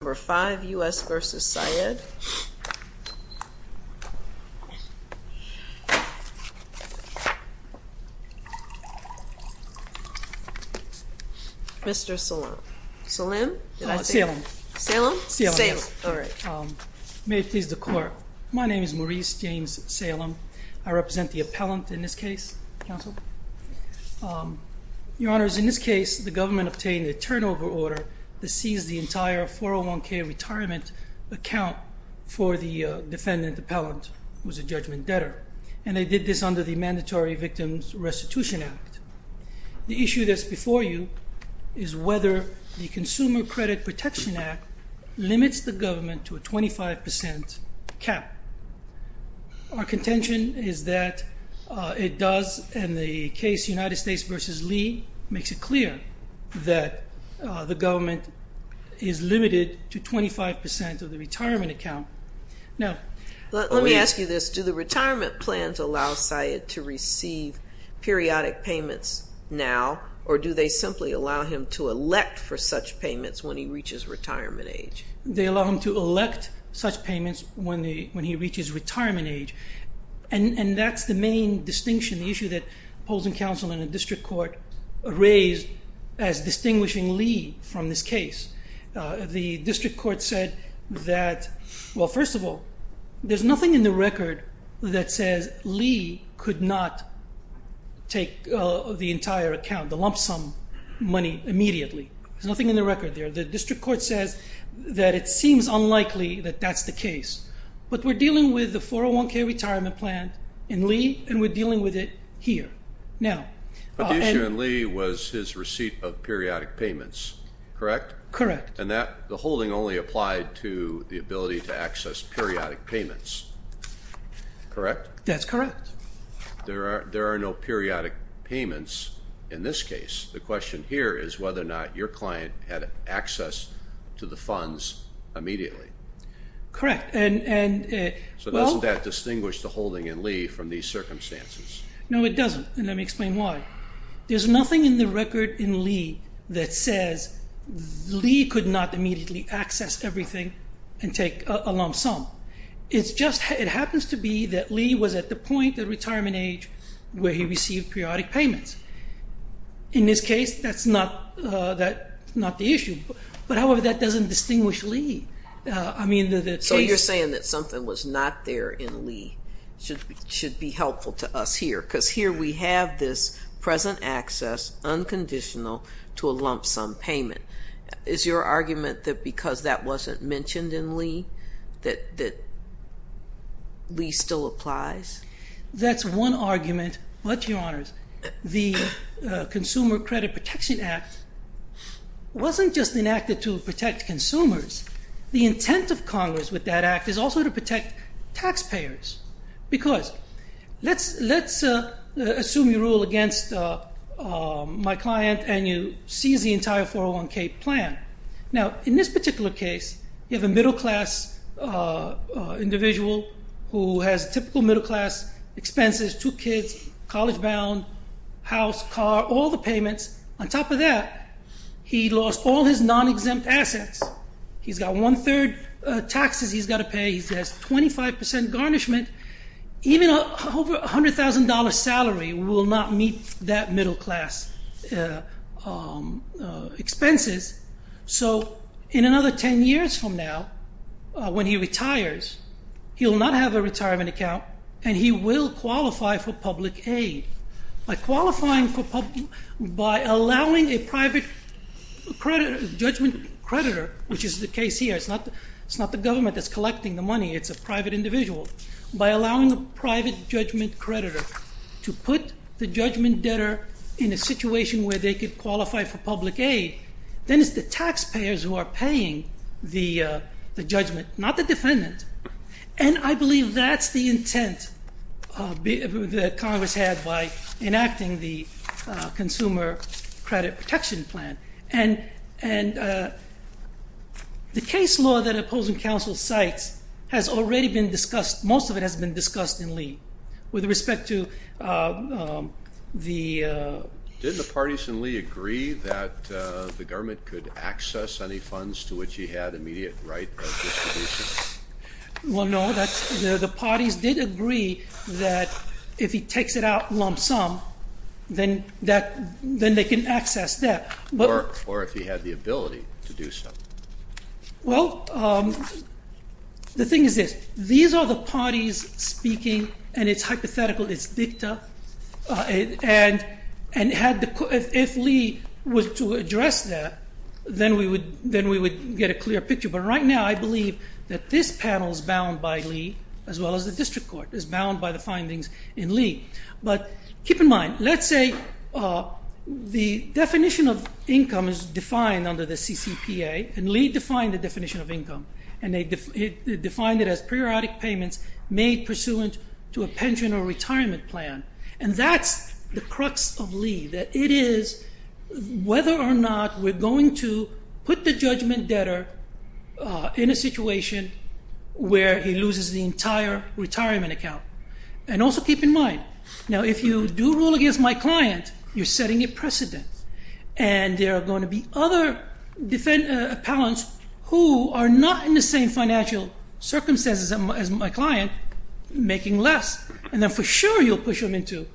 No. 5 U.S. v. Sayyed Mr. Salem Salem? Salem Salem? Salem Alright May it please the court My name is Maurice James Salem I represent the appellant in this case Counsel Your Honor, in this case the government obtained a turnover order that sees the entire 401k retirement account for the defendant appellant who is a judgment debtor And they did this under the Mandatory Victims Restitution Act The issue that's before you is whether the Consumer Credit Protection Act limits the government to a 25% cap Our contention is that it does, in the case United States v. Lee makes it clear that the government is limited to 25% of the retirement account Now Let me ask you this, do the retirement plans allow Sayyed to receive periodic payments now or do they simply allow him to elect for such payments when he reaches retirement age? They allow him to elect such payments when he reaches retirement age And that's the main distinction, the issue that opposing counsel in the district court raised as distinguishing Lee from this case The district court said that Well, first of all, there's nothing in the record that says Lee could not take the entire account, the lump sum money immediately There's nothing in the record there The district court says that it seems unlikely that that's the case But we're dealing with the 401k retirement plan in Lee and we're dealing with it here But the issue in Lee was his receipt of periodic payments, correct? Correct And the holding only applied to the ability to access periodic payments, correct? That's correct There are no periodic payments in this case The question here is whether or not your client had access to the funds immediately Correct So doesn't that distinguish the holding in Lee from these circumstances? No, it doesn't and let me explain why There's nothing in the record in Lee that says Lee could not immediately access everything and take a lump sum It happens to be that Lee was at the point of retirement age where he received periodic payments In this case, that's not the issue But however, that doesn't distinguish Lee So you're saying that something was not there in Lee should be helpful to us here because here we have this present access unconditional to a lump sum payment Is your argument that because that wasn't mentioned in Lee that Lee still applies? That's one argument The Consumer Credit Protection Act wasn't just enacted to protect consumers The intent of Congress with that act is also to protect taxpayers Because let's assume you rule against my client and you seize the entire 401k plan Now in this particular case, you have a middle class individual who has typical middle class expenses Two kids, college bound, house, car, all the payments On top of that, he lost all his non-exempt assets He's got one-third taxes he's got to pay He has 25% garnishment Even a $100,000 salary will not meet that middle class expenses So in another 10 years from now when he retires, he'll not have a retirement account and he will qualify for public aid By allowing a private judgment creditor, which is the case here It's not the government that's collecting the money, it's a private individual By allowing a private judgment creditor to put the judgment debtor in a situation where they could qualify for public aid then it's the taxpayers who are paying the judgment, not the defendant And I believe that's the intent that Congress had by enacting the Consumer Credit Protection Plan And the case law that opposing counsel cites has already been discussed Most of it has been discussed in Lee Did the parties in Lee agree that the government could access any funds to which he had immediate right of distribution? Well no, the parties did agree that if he takes it out lump sum, then they can access that Or if he had the ability to do so Well, the thing is this, these are the parties speaking and it's hypothetical, it's dicta And if Lee was to address that, then we would get a clear picture But right now I believe that this panel is bound by Lee as well as the district court It's bound by the findings in Lee But keep in mind, let's say the definition of income is defined under the CCPA And Lee defined the definition of income And he defined it as periodic payments made pursuant to a pension or retirement plan And that's the crux of Lee, that it is whether or not we're going to put the judgment debtor in a situation where he loses the entire retirement account And also keep in mind, now if you do rule against my client, you're setting a precedent And there are going to be other defend, appellants who are not in the same financial circumstances as my client making less And then for sure you'll push them into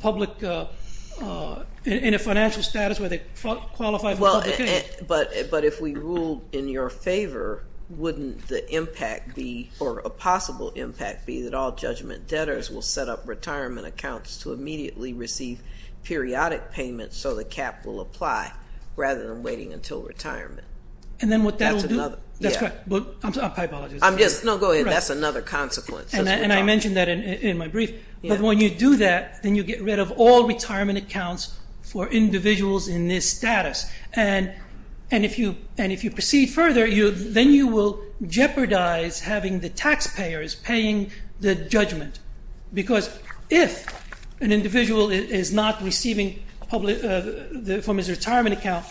public, in a financial status where they qualify for public aid But if we ruled in your favor, wouldn't the impact be, or a possible impact be that all judgment debtors will set up retirement accounts To immediately receive periodic payments so the cap will apply rather than waiting until retirement And then what that will do, that's correct, I apologize No, go ahead, that's another consequence And I mentioned that in my brief But when you do that, then you get rid of all retirement accounts for individuals in this status And if you proceed further, then you will jeopardize having the taxpayers paying the judgment Because if an individual is not receiving from his retirement account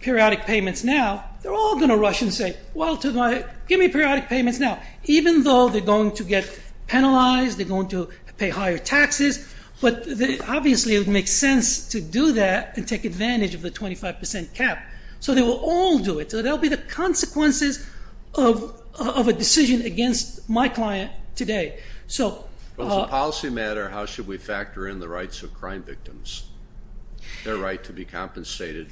periodic payments now They're all going to rush and say, well, give me periodic payments now Even though they're going to get penalized, they're going to pay higher taxes But obviously it would make sense to do that and take advantage of the 25% cap So they will all do it, so that will be the consequences of a decision against my client today Well as a policy matter, how should we factor in the rights of crime victims? Their right to be compensated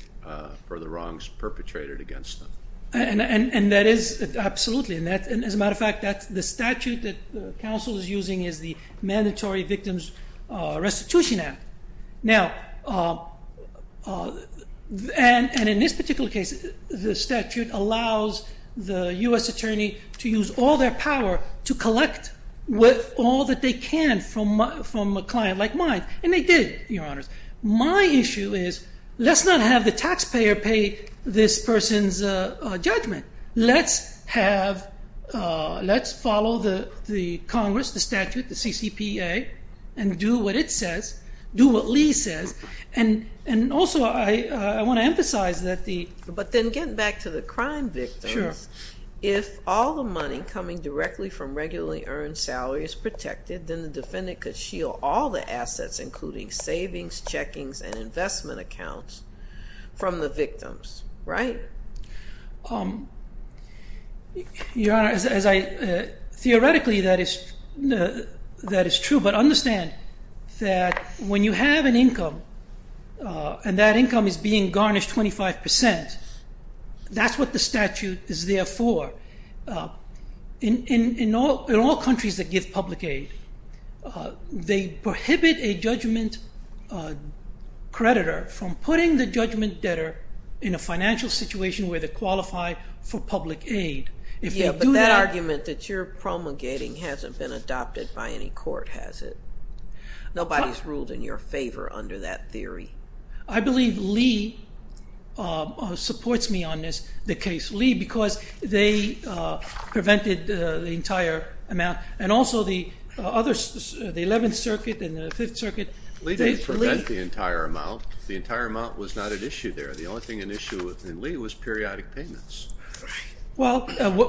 for the wrongs perpetrated against them And that is absolutely, and as a matter of fact, that's the statute that the council is using Is the Mandatory Victims Restitution Act Now, and in this particular case, the statute allows the U.S. attorney to use all their power To collect all that they can from a client like mine, and they did, your honors My issue is, let's not have the taxpayer pay this person's judgment Let's have, let's follow the Congress, the statute, the CCPA And do what it says, do what Lee says, and also I want to emphasize that the But then getting back to the crime victims If all the money coming directly from regularly earned salary is protected Then the defendant could shield all the assets, including savings, checkings, and investment accounts From the victims, right? Your honor, as I, theoretically that is true, but understand That when you have an income, and that income is being garnished 25% That's what the statute is there for In all countries that give public aid, they prohibit a judgment creditor From putting the judgment debtor in a financial situation where they qualify for public aid Yeah, but that argument that you're promulgating hasn't been adopted by any court, has it? Nobody's ruled in your favor under that theory I believe Lee supports me on this, the case Lee, because they prevented the entire amount And also the other, the 11th circuit and the 5th circuit Lee didn't prevent the entire amount, the entire amount was not at issue there The only thing at issue in Lee was periodic payments Well,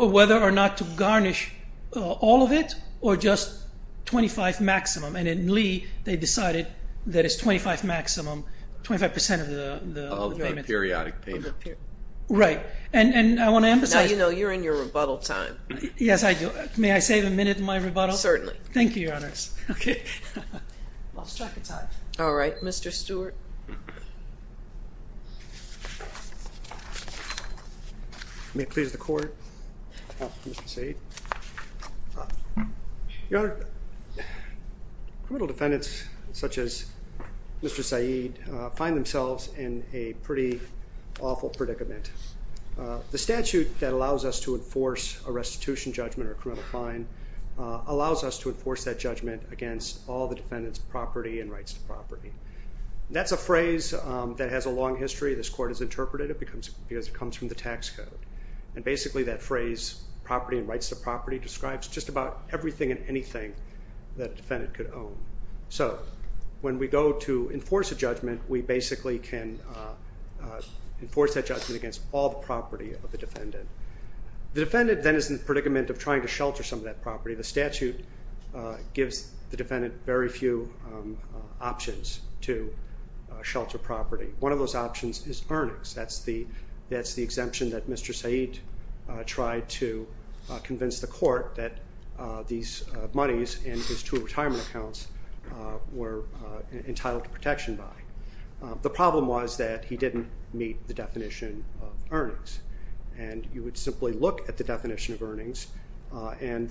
whether or not to garnish all of it, or just 25 maximum And in Lee, they decided that it's 25 maximum, 25% of the payments Of the periodic payment Right, and I want to emphasize Now you know you're in your rebuttal time Yes, I do, may I save a minute in my rebuttal? Certainly Thank you, your honors Lost track of time All right, Mr. Stewart May it please the court, Mr. Seid Your honor, criminal defendants such as Mr. Seid Find themselves in a pretty awful predicament The statute that allows us to enforce a restitution judgment or a criminal fine Allows us to enforce that judgment against all the defendants' property and rights to property That's a phrase that has a long history, this court has interpreted it because it comes from the tax code And basically that phrase, property and rights to property Describes just about everything and anything that a defendant could own So, when we go to enforce a judgment We basically can enforce that judgment against all the property of the defendant The defendant then is in the predicament of trying to shelter some of that property The statute gives the defendant very few options to shelter property One of those options is earnings That's the exemption that Mr. Seid tried to convince the court That these monies in his two retirement accounts were entitled to protection by The problem was that he didn't meet the definition of earnings And you would simply look at the definition of earnings And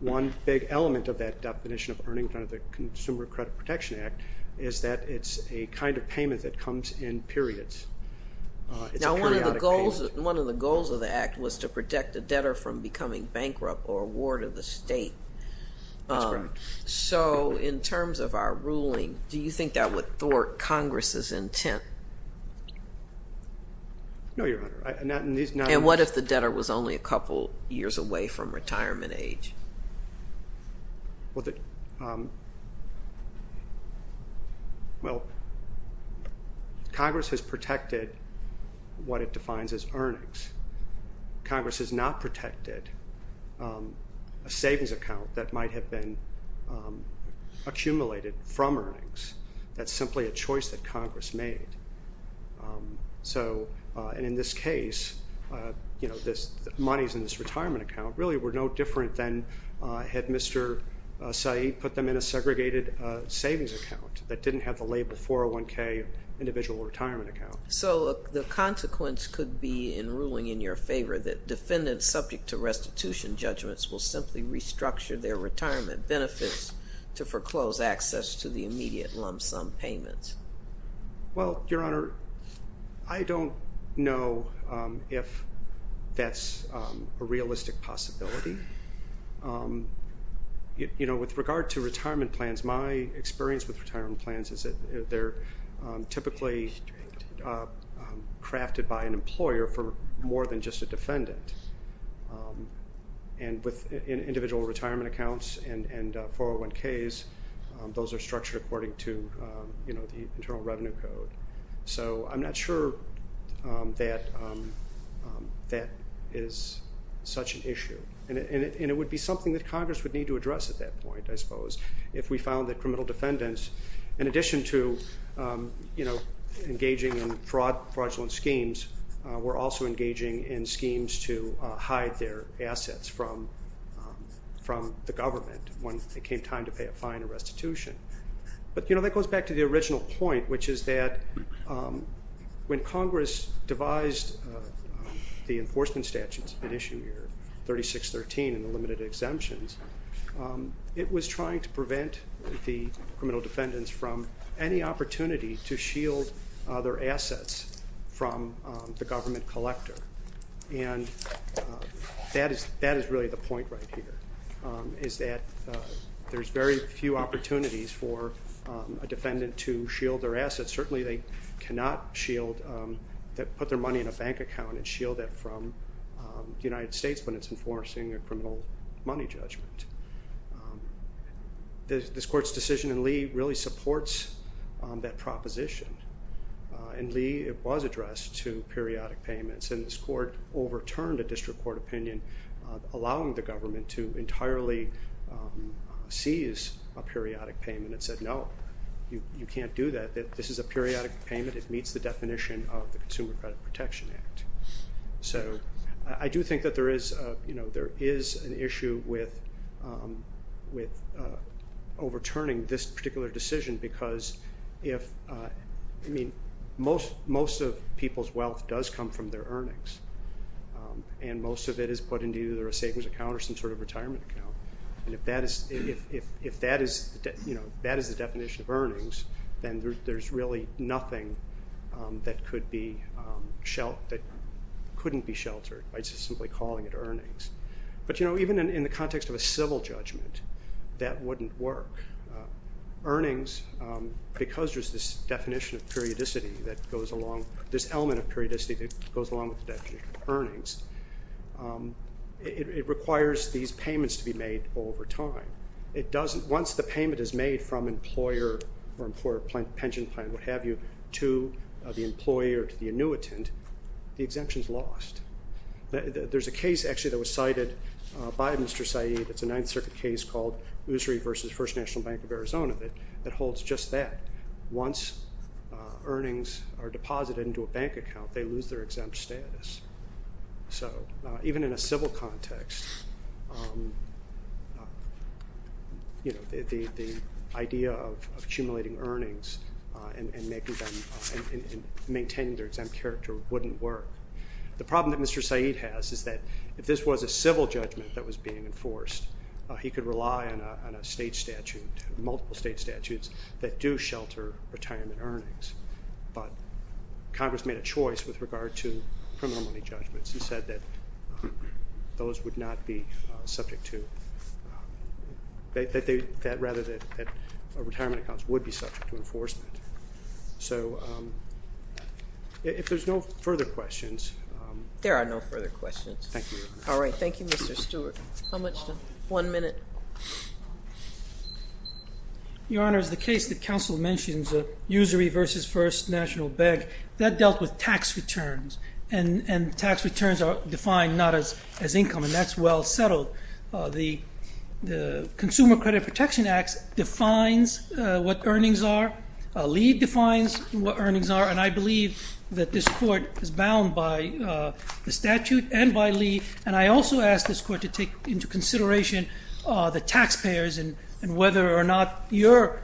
one big element of that definition of earnings under the Consumer Credit Protection Act Is that it's a kind of payment that comes in periods Now, one of the goals of the act was to protect the debtor from becoming bankrupt or a ward of the state So, in terms of our ruling, do you think that would thwart Congress's intent? No, Your Honor And what if the debtor was only a couple years away from retirement age? Well, Congress has protected what it defines as earnings Congress has not protected a savings account that might have been accumulated from earnings That's simply a choice that Congress made And in this case, the monies in this retirement account really were no different than Had Mr. Seid put them in a segregated savings account That didn't have the label 401K Individual Retirement Account So, the consequence could be in ruling in your favor That defendants subject to restitution judgments will simply restructure their retirement benefits To foreclose access to the immediate lump sum payments Well, Your Honor, I don't know if that's a realistic possibility With regard to retirement plans, my experience with retirement plans Is that they're typically crafted by an employer for more than just a defendant And with individual retirement accounts and 401Ks Those are structured according to the Internal Revenue Code So, I'm not sure that that is such an issue And it would be something that Congress would need to address at that point, I suppose If we found that criminal defendants, in addition to engaging in fraudulent schemes Were also engaging in schemes to hide their assets from the government When it came time to pay a fine or restitution But, you know, that goes back to the original point Which is that when Congress devised the enforcement statutes In issue 3613 in the limited exemptions It was trying to prevent the criminal defendants from any opportunity To shield their assets from the government collector And that is really the point right here Is that there's very few opportunities for a defendant to shield their assets Certainly they cannot put their money in a bank account And shield that from the United States When it's enforcing a criminal money judgment This Court's decision in Lee really supports that proposition In Lee, it was addressed to periodic payments And this Court overturned a district court opinion Allowing the government to entirely seize a periodic payment And said no, you can't do that, this is a periodic payment It meets the definition of the Consumer Credit Protection Act So I do think that there is an issue with overturning this particular decision Because most of people's wealth does come from their earnings And most of it is put into either a savings account or some sort of retirement account And if that is the definition of earnings Then there's really nothing that couldn't be sheltered By just simply calling it earnings But you know, even in the context of a civil judgment That wouldn't work Earnings, because there's this definition of periodicity This element of periodicity that goes along with the definition of earnings It requires these payments to be made over time Once the payment is made from employer or pension plan To the employer, to the annuitant The exemption is lost There's a case actually that was cited by Mr. Saeed It's a Ninth Circuit case called Usry v. First National Bank of Arizona That holds just that Once earnings are deposited into a bank account They lose their exempt status So even in a civil context The idea of accumulating earnings And maintaining their exempt character wouldn't work The problem that Mr. Saeed has is that If this was a civil judgment that was being enforced He could rely on a state statute Multiple state statutes that do shelter retirement earnings But Congress made a choice with regard to criminal money judgments And said that those would not be subject to Rather that retirement accounts would be subject to enforcement So if there's no further questions There are no further questions Thank you All right, thank you Mr. Stewart One minute Your Honor, the case that counsel mentions Usry v. First National Bank That dealt with tax returns And tax returns are defined not as income And that's well settled The Consumer Credit Protection Act Defines what earnings are Lee defines what earnings are And I believe that this court is bound by the statute And by Lee And I also ask this court to take into consideration The taxpayers And whether or not your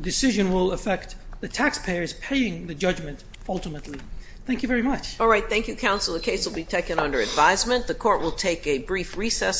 decision will affect The taxpayers paying the judgment ultimately Thank you very much All right, thank you counsel The case will be taken under advisement The court will take a brief recess